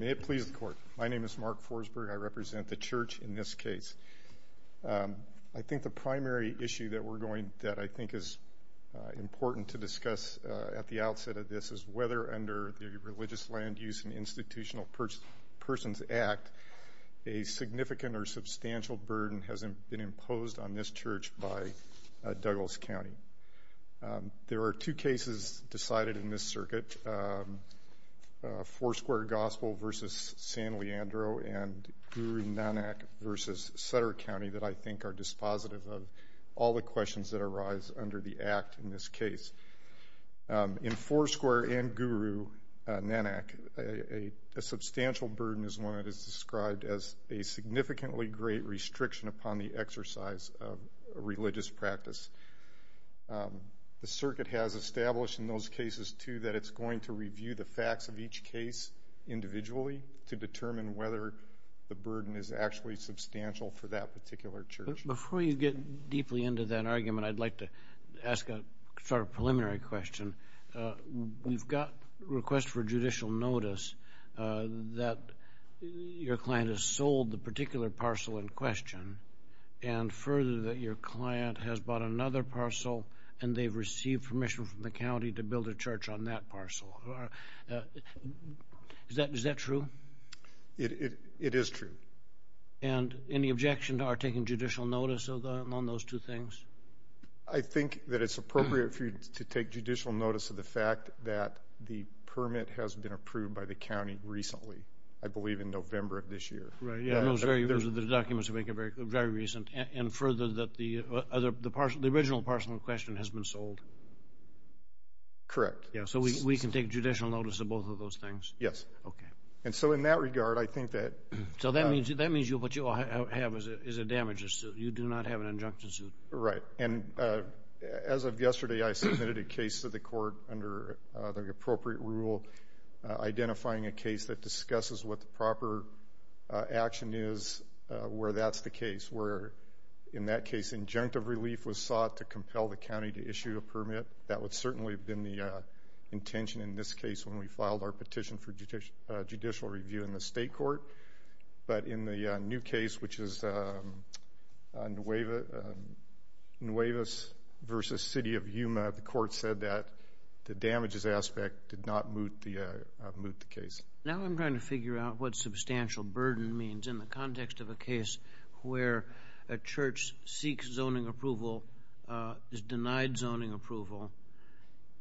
May it please the Court, my name is Mark Forsberg, I represent the Church in this case. I think the primary issue that I think is important to discuss at the outset of this is whether under the Religious Land Use and Institutional Persons Act a significant or substantial burden has been imposed on this church by Douglas County. There are two cases decided in this circuit, Foursquare Gospel v. San Leandro and Guru Nanak v. Sutter County that I think are dispositive of all the questions that arise under the Act in this case. In Foursquare and Guru Nanak, a substantial burden is one that is described as a significantly great restriction upon the exercise of religious practice. The circuit has established in those cases, too, that it's going to review the facts of each case individually to determine whether the burden is actually substantial for that particular church. Before you get deeply into that argument, I'd like to ask a sort of preliminary question. We've got requests for judicial notice that your client has sold the particular parcel in question and further that your client has bought another parcel and they've received permission from the county to build a church on that parcel. Is that true? It is true. And any objection to our taking judicial notice on those two things? I think that it's appropriate for you to take judicial notice of the fact that the permit has been approved by the county recently. I believe in November of this year. Right. Those documents are very recent. And further, the original parcel in question has been sold. Correct. So we can take judicial notice of both of those things? Yes. Okay. And so in that regard, I think that So that means what you have is a damages suit. You do not have an injunction suit. Right. And as of yesterday, I submitted a case to the court under the appropriate rule, identifying a case that discusses what the proper action is where that's the case, where in that case injunctive relief was sought to compel the county to issue a permit. That would certainly have been the intention in this case when we filed our petition for judicial review in the state court. But in the new case, which is Nuevas v. City of Yuma, the court said that the damages aspect did not moot the case. Now I'm trying to figure out what substantial burden means in the context of a case where a church seeks zoning approval, is denied zoning approval.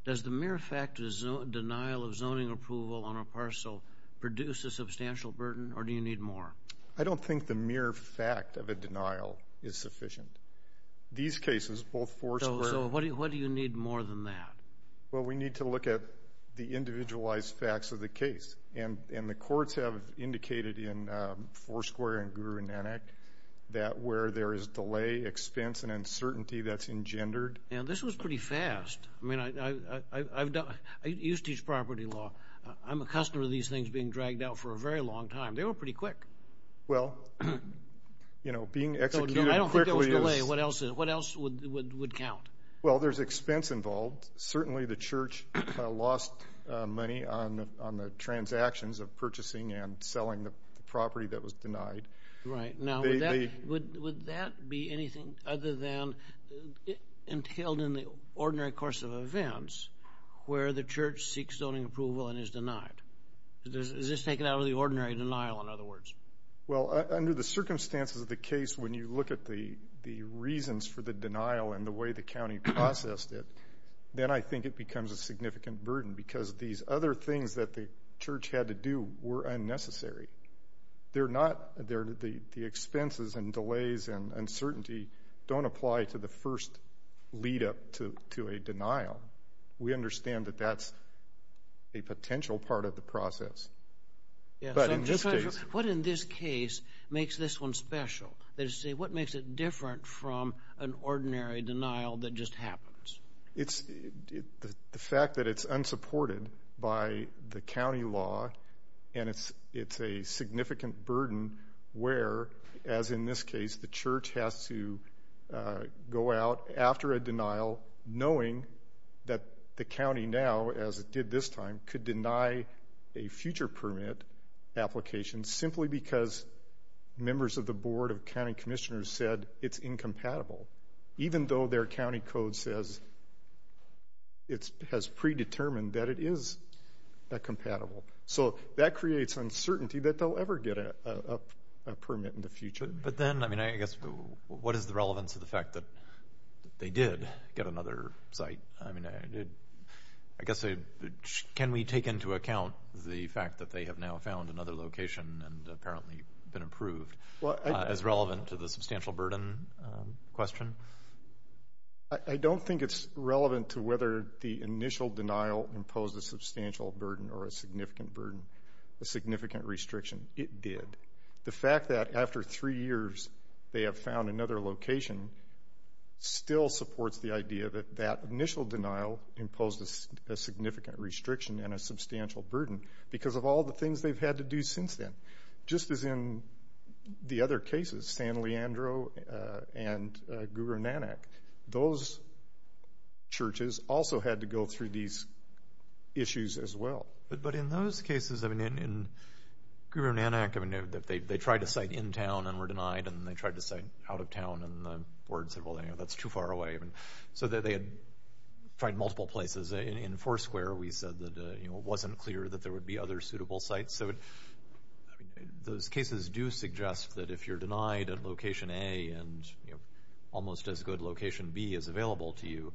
Does the mere fact of denial of zoning approval on a parcel produce a substantial burden, or do you need more? I don't think the mere fact of a denial is sufficient. These cases, both Foursquare. So what do you need more than that? Well, we need to look at the individualized facts of the case. And the courts have indicated in Foursquare and Guru-Nanak that where there is delay, expense, and uncertainty, that's engendered. Now, this was pretty fast. I mean, I used to teach property law. I'm accustomed to these things being dragged out for a very long time. They were pretty quick. Well, you know, being executed quickly is. I don't think there was delay. What else would count? Well, there's expense involved. and selling the property that was denied. Right. Now, would that be anything other than entailed in the ordinary course of events where the church seeks zoning approval and is denied? Is this taken out of the ordinary denial, in other words? Well, under the circumstances of the case, when you look at the reasons for the denial and the way the county processed it, then I think it becomes a significant burden because these other things that the church had to do were unnecessary. They're not. The expenses and delays and uncertainty don't apply to the first lead-up to a denial. We understand that that's a potential part of the process. But in this case. What in this case makes this one special? What makes it different from an ordinary denial that just happens? The fact that it's unsupported by the county law and it's a significant burden where, as in this case, the church has to go out after a denial knowing that the county now, as it did this time, could deny a future permit application simply because members of the board of county commissioners said it's incompatible. Even though their county code says it has predetermined that it is compatible. So that creates uncertainty that they'll ever get a permit in the future. But then, I mean, I guess what is the relevance of the fact that they did get another site? I mean, I guess can we take into account the fact that they have now found another location and apparently been approved as relevant to the substantial burden question? I don't think it's relevant to whether the initial denial imposed a substantial burden or a significant burden, a significant restriction. It did. The fact that after three years they have found another location still supports the idea that that initial denial imposed a significant restriction and a substantial burden because of all the things they've had to do since then. Just as in the other cases, San Leandro and Guru Nanak, those churches also had to go through these issues as well. But in those cases, I mean, in Guru Nanak, they tried to site in town and were denied and they tried to site out of town and the board said, well, that's too far away. So they had tried multiple places. In Foursquare, we said that it wasn't clear that there would be other suitable sites. So those cases do suggest that if you're denied at location A and almost as good location B is available to you,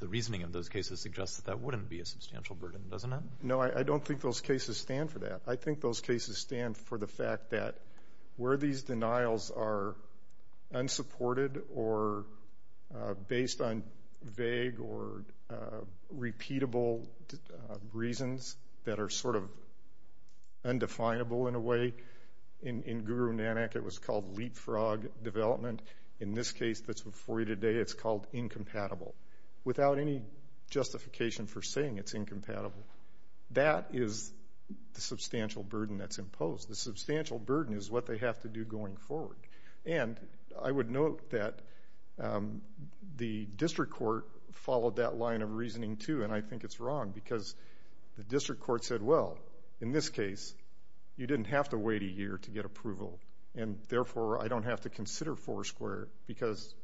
the reasoning of those cases suggests that that wouldn't be a substantial burden, doesn't it? No, I don't think those cases stand for that. I think those cases stand for the fact that where these denials are unsupported or based on vague or repeatable reasons that are sort of undefinable in a way, in Guru Nanak it was called leapfrog development. In this case that's before you today, it's called incompatible. Without any justification for saying it's incompatible, that is the substantial burden that's imposed. The substantial burden is what they have to do going forward. And I would note that the district court followed that line of reasoning too, and I think it's wrong because the district court said, well, in this case, you didn't have to wait a year to get approval, and therefore I don't have to consider Foursquare because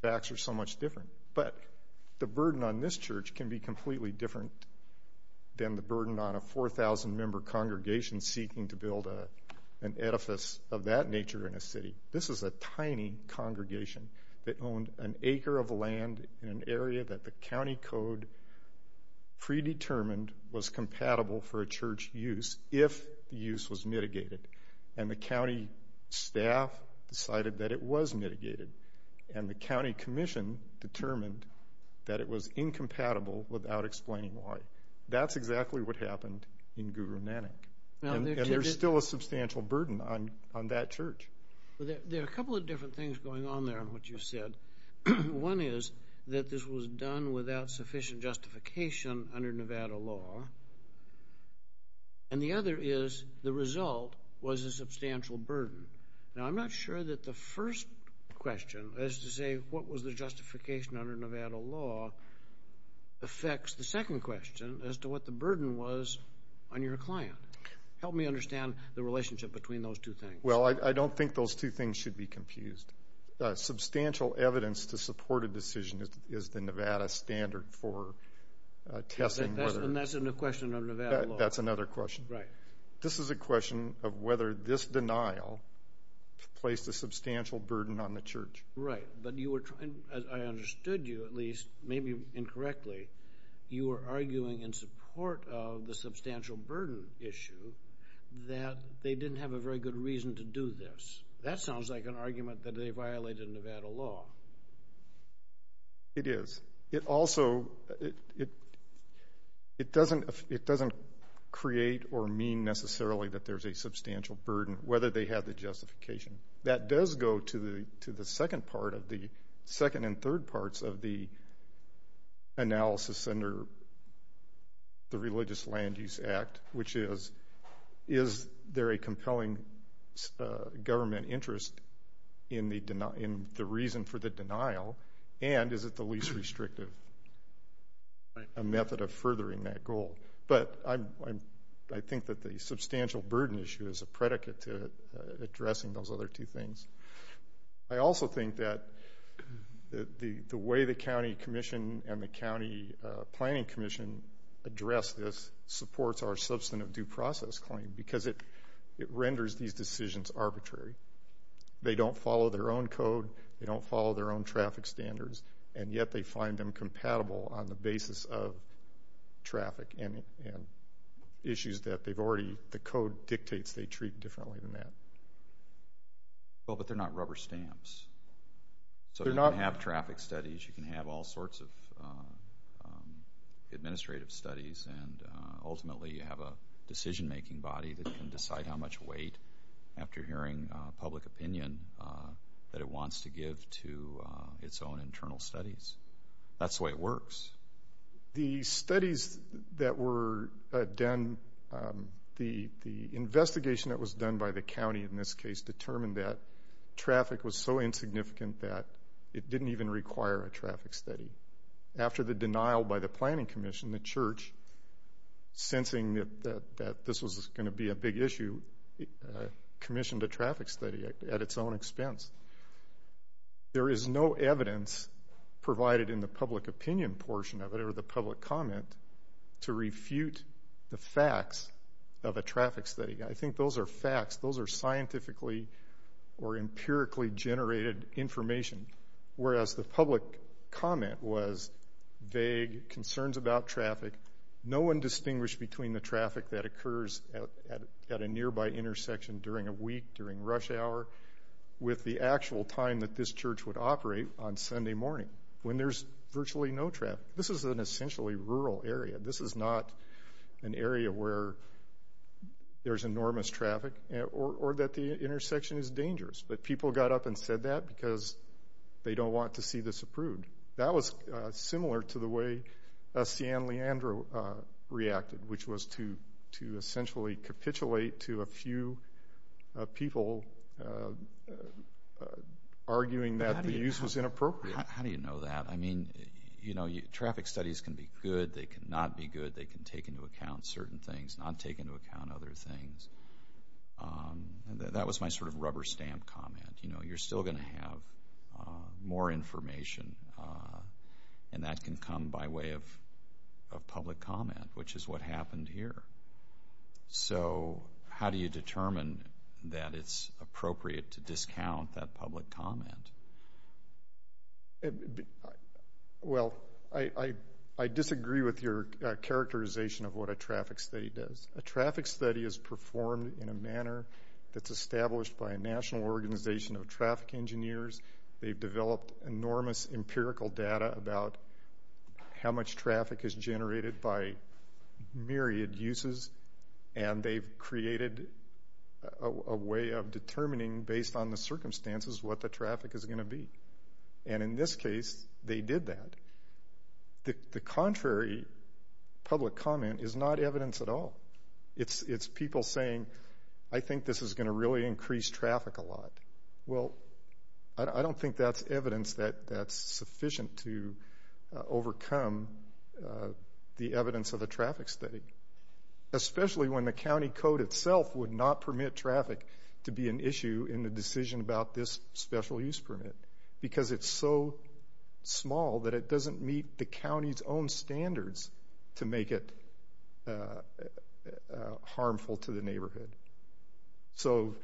the facts are so much different. But the burden on this church can be completely different than the burden on a 4,000-member congregation seeking to build an edifice of that nature in a city. This is a tiny congregation that owned an acre of land in an area that the county code predetermined was compatible for a church use if the use was mitigated. And the county staff decided that it was mitigated, and the county commission determined that it was incompatible without explaining why. That's exactly what happened in Guru Nanak, and there's still a substantial burden on that church. There are a couple of different things going on there in what you said. One is that this was done without sufficient justification under Nevada law, and the other is the result was a substantial burden. Now, I'm not sure that the first question, as to say what was the justification under Nevada law, affects the second question, as to what the burden was on your client. Help me understand the relationship between those two things. Well, I don't think those two things should be confused. Substantial evidence to support a decision is the Nevada standard for testing whether... And that's in the question of Nevada law. That's another question. Right. This is a question of whether this denial placed a substantial burden on the church. Right. But you were trying, as I understood you at least, maybe incorrectly, you were arguing in support of the substantial burden issue that they didn't have a very good reason to do this. That sounds like an argument that they violated Nevada law. It is. It also doesn't create or mean necessarily that there's a substantial burden, whether they have the justification. That does go to the second part of the second and third parts of the analysis under the Religious Land Use Act, which is is there a compelling government interest in the reason for the denial and is it the least restrictive method of furthering that goal. But I think that the substantial burden issue is a predicate to addressing those other two things. I also think that the way the county commission and the county planning commission address this supports our substantive due process claim because it renders these decisions arbitrary. They don't follow their own code. They don't follow their own traffic standards. And yet they find them compatible on the basis of traffic and issues that they've already, the code dictates they treat differently than that. Well, but they're not rubber stamps. So you can have traffic studies, you can have all sorts of administrative studies, and ultimately you have a decision-making body that can decide how much weight, after hearing public opinion, that it wants to give to its own internal studies. That's the way it works. The studies that were done, the investigation that was done by the county in this case, determined that traffic was so insignificant that it didn't even require a traffic study. After the denial by the planning commission, the church, sensing that this was going to be a big issue, commissioned a traffic study at its own expense. There is no evidence provided in the public opinion portion of it or the public comment to refute the facts of a traffic study. I think those are facts. Those are scientifically or empirically generated information. Whereas the public comment was vague concerns about traffic. No one distinguished between the traffic that occurs at a nearby intersection during a week, during rush hour, with the actual time that this church would operate on Sunday morning, when there's virtually no traffic. This is an essentially rural area. This is not an area where there's enormous traffic or that the intersection is dangerous. But people got up and said that because they don't want to see this approved. That was similar to the way Sian Leandro reacted, which was to essentially capitulate to a few people arguing that the use was inappropriate. How do you know that? I mean, you know, traffic studies can be good. They can not be good. They can take into account certain things, not take into account other things. That was my sort of rubber stamp comment. You know, you're still going to have more information, and that can come by way of public comment, which is what happened here. So how do you determine that it's appropriate to discount that public comment? Well, I disagree with your characterization of what a traffic study does. A traffic study is performed in a manner that's established by a national organization of traffic engineers. They've developed enormous empirical data about how much traffic is generated by myriad uses, and they've created a way of determining, based on the circumstances, what the traffic is going to be. And in this case, they did that. The contrary public comment is not evidence at all. It's people saying, I think this is going to really increase traffic a lot. Well, I don't think that's evidence that's sufficient to overcome the evidence of a traffic study, especially when the county code itself would not permit traffic to be an issue in the decision about this special use permit because it's so small that it doesn't meet the county's own standards to make it harmful to the neighborhood. So,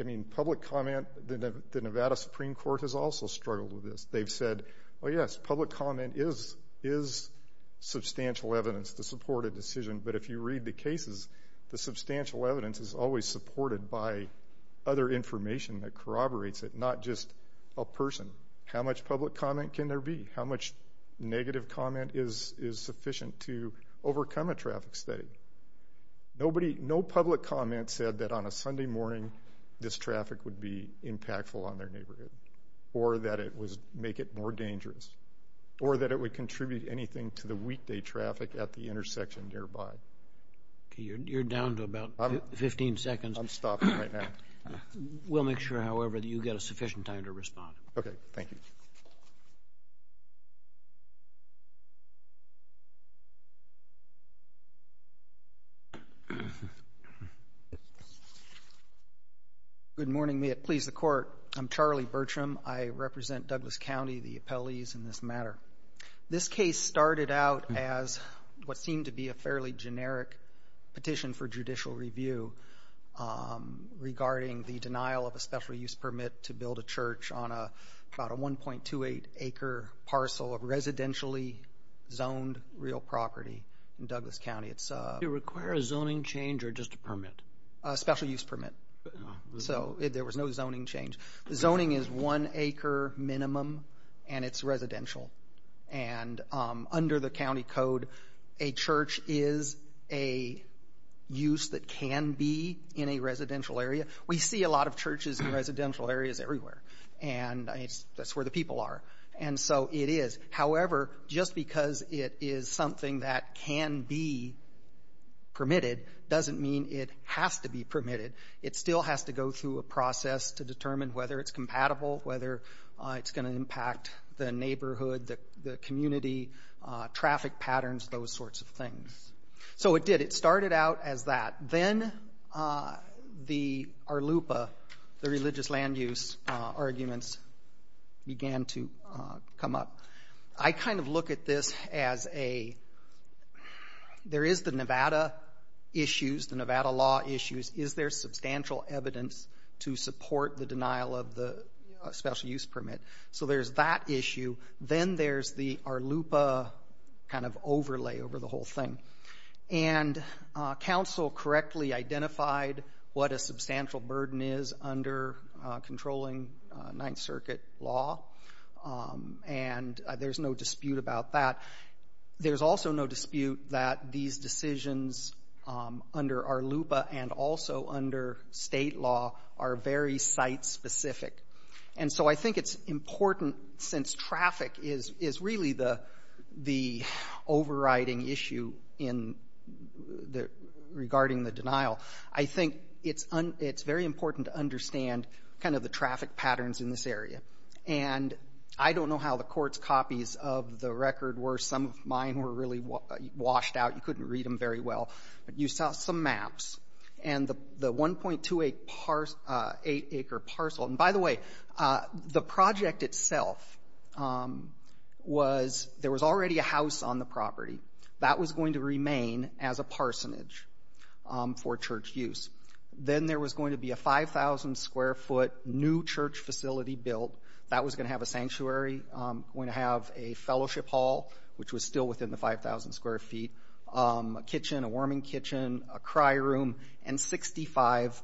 I mean, public comment, the Nevada Supreme Court has also struggled with this. They've said, oh, yes, public comment is substantial evidence to support a decision, but if you read the cases, the substantial evidence is always supported by other information that corroborates it, not just a person. How much public comment can there be? How much negative comment is sufficient to overcome a traffic study? Nobody, no public comment said that on a Sunday morning this traffic would be impactful on their neighborhood or that it would make it more dangerous or that it would contribute anything to the weekday traffic at the intersection nearby. Okay, you're down to about 15 seconds. I'm stopping right now. We'll make sure, however, that you get a sufficient time to respond. Okay, thank you. Good morning. May it please the Court. I'm Charlie Bertram. I represent Douglas County, the appellees in this matter. This case started out as what seemed to be a fairly generic petition for judicial review regarding the denial of a special use permit to build a church on about a 1.28-acre parcel of residentially zoned real property in Douglas County. Did it require a zoning change or just a permit? A special use permit. So there was no zoning change. The zoning is one acre minimum, and it's residential. And under the county code, a church is a use that can be in a residential area. We see a lot of churches in residential areas everywhere, and that's where the people are. And so it is. However, just because it is something that can be permitted doesn't mean it has to be permitted. It still has to go through a process to determine whether it's compatible, whether it's going to impact the neighborhood, the community, traffic patterns, those sorts of things. So it did. It started out as that. Then the ARLUPA, the religious land use arguments, began to come up. I kind of look at this as a there is the Nevada issues, the Nevada law issues. Is there substantial evidence to support the denial of the special use permit? So there's that issue. Then there's the ARLUPA kind of overlay over the whole thing. And council correctly identified what a substantial burden is under controlling Ninth Circuit law, and there's no dispute about that. There's also no dispute that these decisions under ARLUPA and also under state law are very site-specific. And so I think it's important, since traffic is really the overriding issue regarding the denial, I think it's very important to understand kind of the traffic patterns in this area. And I don't know how the court's copies of the record were. Some of mine were really washed out. You couldn't read them very well. But you saw some maps, and the 1.28-acre parcel. And by the way, the project itself was there was already a house on the property. That was going to remain as a parsonage for church use. Then there was going to be a 5,000-square-foot new church facility built. That was going to have a sanctuary, going to have a fellowship hall, which was still within the 5,000 square feet, a kitchen, a warming kitchen, a cry room, and 65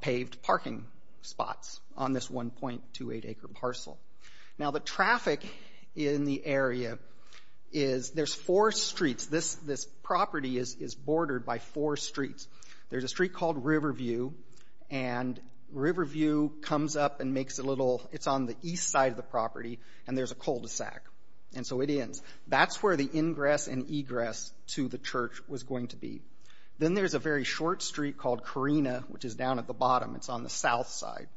paved parking spots on this 1.28-acre parcel. Now, the traffic in the area is there's four streets. This property is bordered by four streets. There's a street called Riverview, and Riverview comes up and makes a little, it's on the east side of the property, and there's a cul-de-sac. And so it ends. That's where the ingress and egress to the church was going to be. Then there's a very short street called Carina, which is down at the bottom. It's on the south side.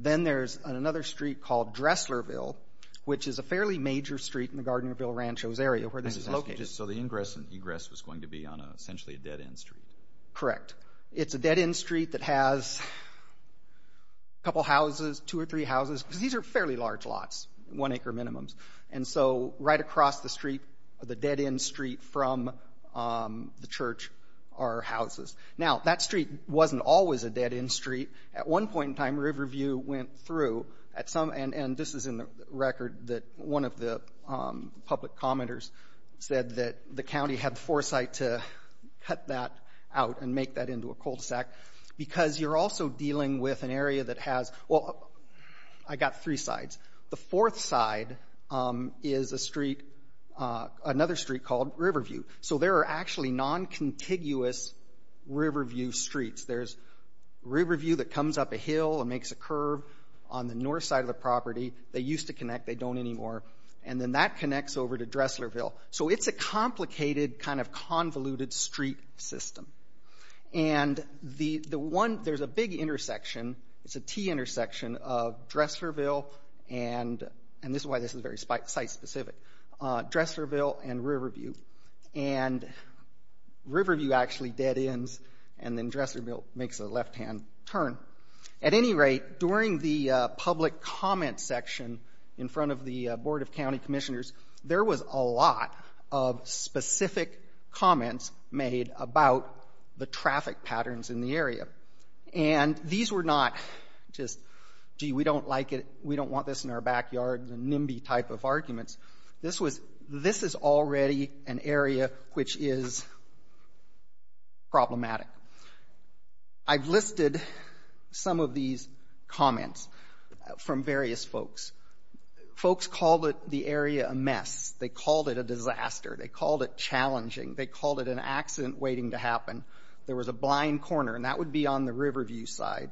Then there's another street called Dresslerville, which is a fairly major street in the Gardnerville Ranchos area where this is located. So the ingress and egress was going to be on essentially a dead-end street. Correct. It's a dead-end street that has a couple houses, two or three houses, because these are fairly large lots, one-acre minimums. And so right across the street, the dead-end street from the church are houses. Now, that street wasn't always a dead-end street. At one point in time, Riverview went through at some, and this is in the record that one of the public commenters said that the county had foresight to cut that out and make that into a cul-de-sac because you're also dealing with an area that has, well, I got three sides. The fourth side is a street, another street called Riverview. So there are actually non-contiguous Riverview streets. There's Riverview that comes up a hill and makes a curve on the north side of the property. They used to connect. They don't anymore. And then that connects over to Dresslerville. So it's a complicated kind of convoluted street system. And there's a big intersection. It's a T-intersection of Dresslerville, and this is why this is very site-specific, Dresslerville and Riverview. And Riverview actually dead-ends, and then Dresslerville makes a left-hand turn. At any rate, during the public comment section in front of the Board of County Commissioners, there was a lot of specific comments made about the traffic patterns in the area. And these were not just, gee, we don't like it, we don't want this in our backyard, the nimby type of arguments. This is already an area which is problematic. I've listed some of these comments from various folks. Folks called the area a mess. They called it a disaster. They called it challenging. They called it an accident waiting to happen. There was a blind corner, and that would be on the Riverview side.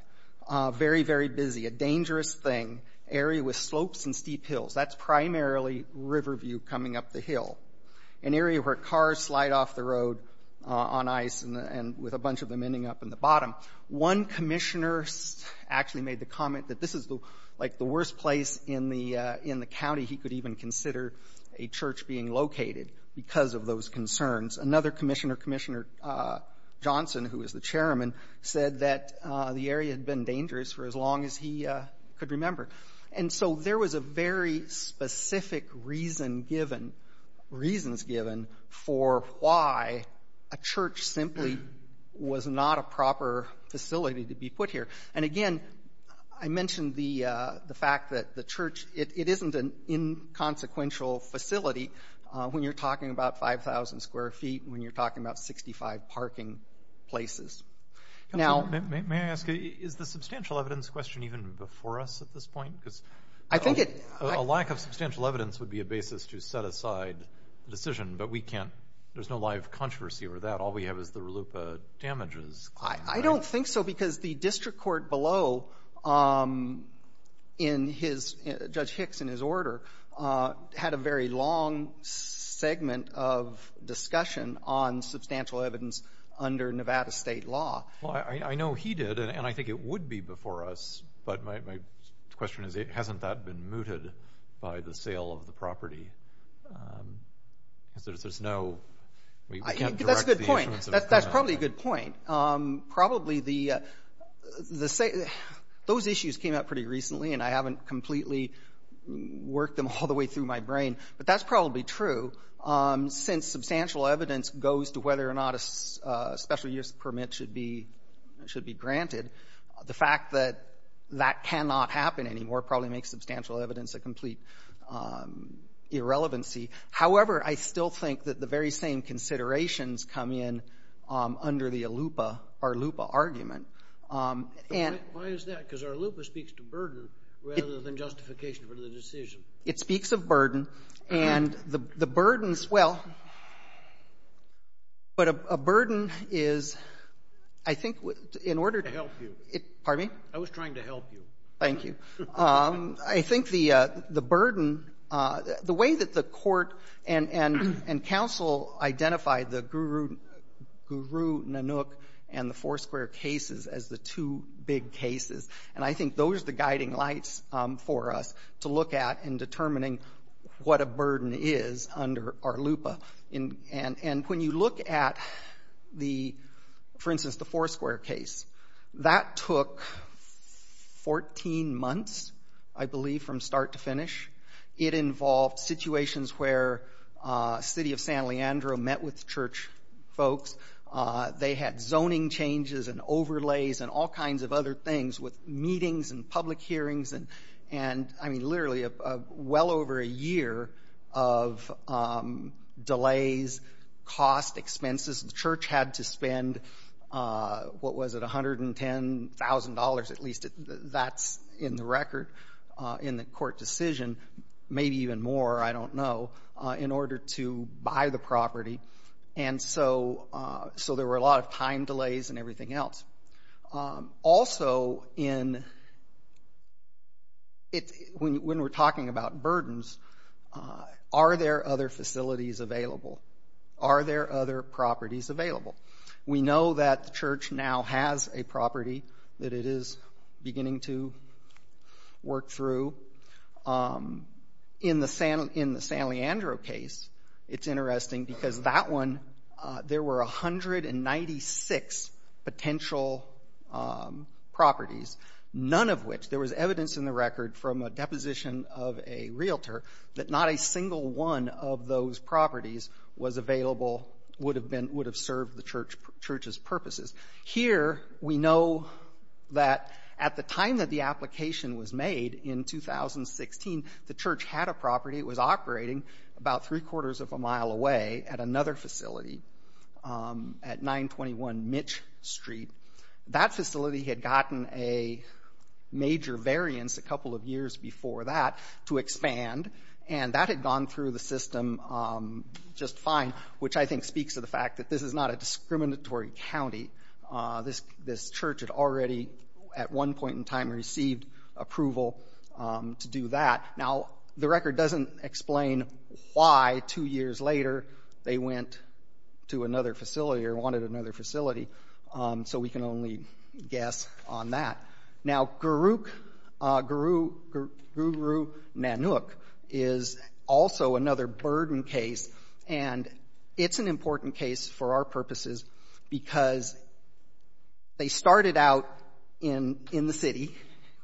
Very, very busy. A dangerous thing. Area with slopes and steep hills. That's primarily Riverview coming up the hill, an area where cars slide off the road on ice and with a bunch of them ending up in the bottom. One commissioner actually made the comment that this is, like, the worst place in the county he could even consider a church being located because of those concerns. Another commissioner, Commissioner Johnson, who was the chairman, said that the area had been dangerous for as long as he could remember. And so there was a very specific reason given, reasons given, for why a church simply was not a proper facility to be put here. And, again, I mentioned the fact that the church, it isn't an inconsequential facility when you're talking about 5,000 square feet and when you're talking about 65 parking places. Now May I ask, is the substantial evidence question even before us at this point? Because a lack of substantial evidence would be a basis to set aside the decision, but we can't. There's no live controversy over that. All we have is the RLUIPA damages. I don't think so because the district court below in his, Judge Hicks in his order, had a very long segment of discussion on substantial evidence under Nevada state law. Well, I know he did, and I think it would be before us, but my question is, hasn't that been mooted by the sale of the property? Because there's no, we can't direct the issuance. That's a good point. That's probably a good point. Probably the, those issues came up pretty recently, and I haven't completely worked them all the way through my brain, but that's probably true. Since substantial evidence goes to whether or not a special use permit should be granted, the fact that that cannot happen anymore probably makes substantial evidence a complete irrelevancy. However, I still think that the very same considerations come in under the ALUIPA, RLUIPA argument. And why is that? Because RLUIPA speaks to burden rather than justification for the decision. It speaks of burden. And the burdens, well, but a burden is, I think, in order to help you. Pardon me? I was trying to help you. Thank you. I think the burden, the way that the court and counsel identified the Guru Nanook and the Foursquare cases as the two big cases, and I think those are the guiding lights for us to look at in determining what a burden is under RLUIPA. And when you look at, for instance, the Foursquare case, that took 14 months, I believe, from start to finish. It involved situations where City of San Leandro met with church folks. They had zoning changes and overlays and all kinds of other things with meetings and public hearings and, I mean, literally well over a year of delays, cost, expenses. The church had to spend, what was it, $110,000, at least that's in the record, in the court decision, maybe even more, I don't know, in order to buy the property. And so there were a lot of time delays and everything else. Also, when we're talking about burdens, are there other facilities available? Are there other properties available? We know that the church now has a property that it is beginning to work through. In the San Leandro case, it's interesting because that one, there were 196 potential properties, none of which there was evidence in the record from a deposition of a realtor that not a single one of those properties was available, would have served the church's purposes. Here, we know that at the time that the application was made in 2016, the church had a property. It was operating about three-quarters of a mile away at another facility at 921 Mitch Street. That facility had gotten a major variance a couple of years before that to expand, and that had gone through the system just fine, which I think speaks to the fact that this is not a discriminatory county. This church had already at one point in time received approval to do that. Now, the record doesn't explain why two years later they went to another facility or wanted another facility, so we can only guess on that. Now, Guruk Nanuk is also another burden case, and it's an important case for our purposes because they started out in the city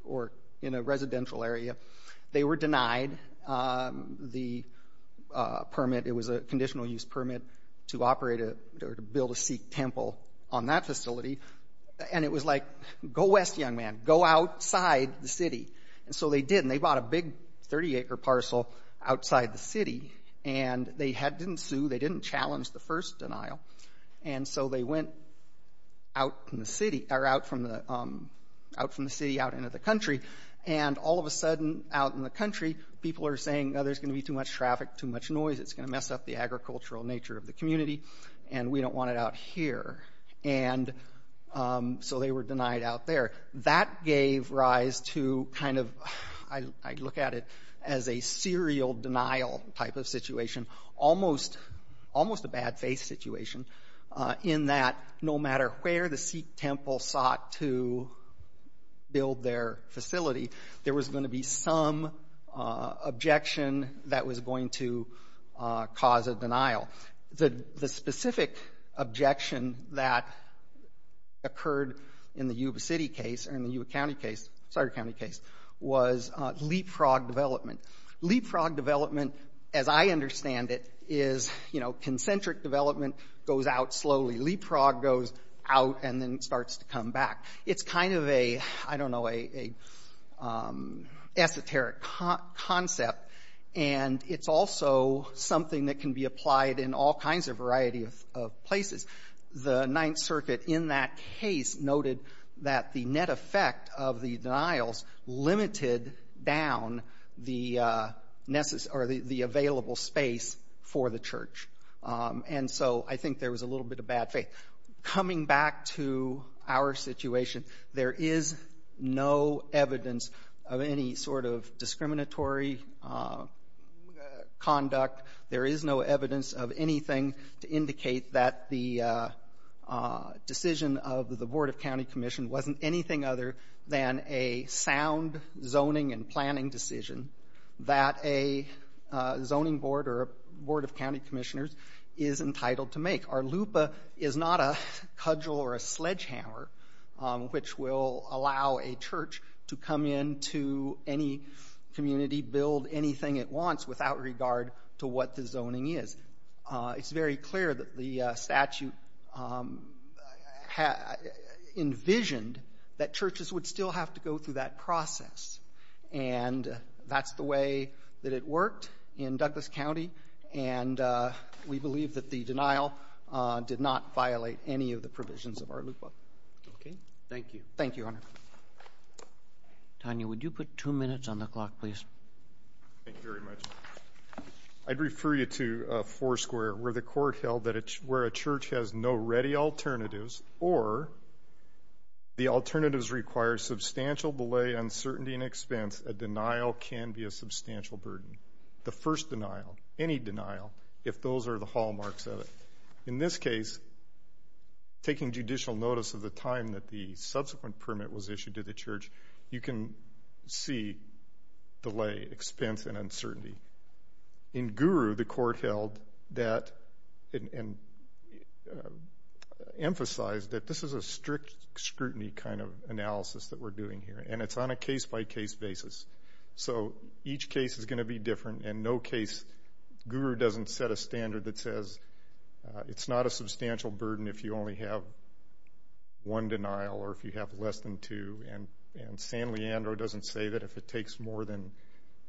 or in a residential area. They were denied the permit. It was a conditional use permit to operate or to build a Sikh temple on that facility, and it was like, go west, young man. Go outside the city. And so they did, and they bought a big 30-acre parcel outside the city, and they didn't sue, they didn't challenge the first denial, and so they went out from the city or out into the country, and all of a sudden out in the country people are saying, oh, there's going to be too much traffic, too much noise. It's going to mess up the agricultural nature of the community, and we don't want it out here. And so they were denied out there. That gave rise to kind of, I look at it as a serial denial type of situation, almost a bad faith situation in that no matter where the Sikh temple sought to build their facility, there was going to be some objection that was going to cause a denial. The specific objection that occurred in the Yuba City case, or in the Yuba County case, sorry, County case, was leapfrog development. Leapfrog development, as I understand it, is, you know, concentric development goes out slowly. Leapfrog goes out and then starts to come back. It's kind of a, I don't know, an esoteric concept, and it's also something that can be applied in all kinds of variety of places. The Ninth Circuit in that case noted that the net effect of the denials limited down the available space for the church. And so I think there was a little bit of bad faith. Coming back to our situation, there is no evidence of any sort of discriminatory conduct. There is no evidence of anything to indicate that the decision of the Board of County Commission wasn't anything other than a sound zoning and planning decision that a zoning board or a board of county commissioners is entitled to make. Our LUPA is not a cudgel or a sledgehammer, which will allow a church to come into any community, build anything it wants, without regard to what the zoning is. It's very clear that the statute envisioned that churches would still have to go through that process. And that's the way that it worked in Douglas County, and we believe that the denial did not violate any of the provisions of our LUPA. Thank you. Thank you, Your Honor. Tanya, would you put two minutes on the clock, please? Thank you very much. I'd refer you to Foursquare, where the court held that where a church has no ready alternatives or the alternatives require substantial delay, uncertainty, and expense, a denial can be a substantial burden. The first denial, any denial, if those are the hallmarks of it. In this case, taking judicial notice of the time that the subsequent permit was issued to the church, you can see delay, expense, and uncertainty. In Guru, the court held that and emphasized that this is a strict scrutiny kind of analysis that we're doing here, and it's on a case-by-case basis. So each case is going to be different. In no case, Guru doesn't set a standard that says it's not a substantial burden if you only have one denial or if you have less than two. And San Leandro doesn't say that if it takes more than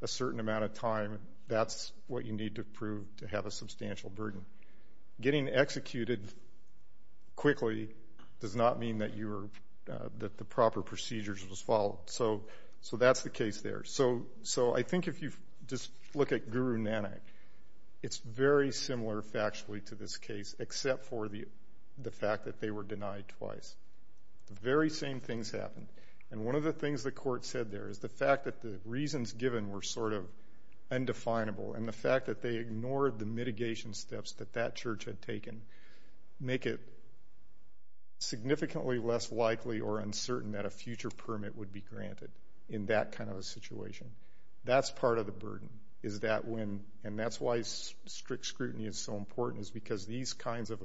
a certain amount of time, that's what you need to prove to have a substantial burden. Getting executed quickly does not mean that the proper procedures was followed. So that's the case there. So I think if you just look at Guru Nanak, it's very similar factually to this case, except for the fact that they were denied twice. The very same things happened. And one of the things the court said there is the fact that the reasons given were sort of undefinable and the fact that they ignored the mitigation steps that that church had taken make it significantly less likely or uncertain that a future permit would be granted in that kind of a situation. That's part of the burden, and that's why strict scrutiny is so important is because these kinds of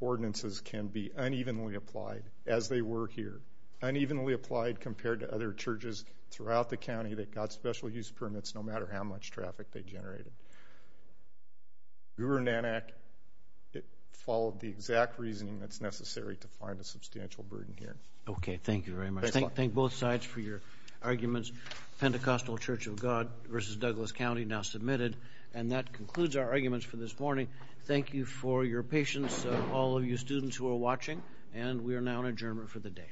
ordinances can be unevenly applied, as they were here, unevenly applied compared to other churches throughout the county that got special use permits no matter how much traffic they generated. Guru Nanak, it followed the exact reasoning that's necessary to find a substantial burden here. Okay. Thank you very much. Thank both sides for your arguments. Pentecostal Church of God v. Douglas County now submitted. And that concludes our arguments for this morning. Thank you for your patience, all of you students who are watching, and we are now in adjournment for the day.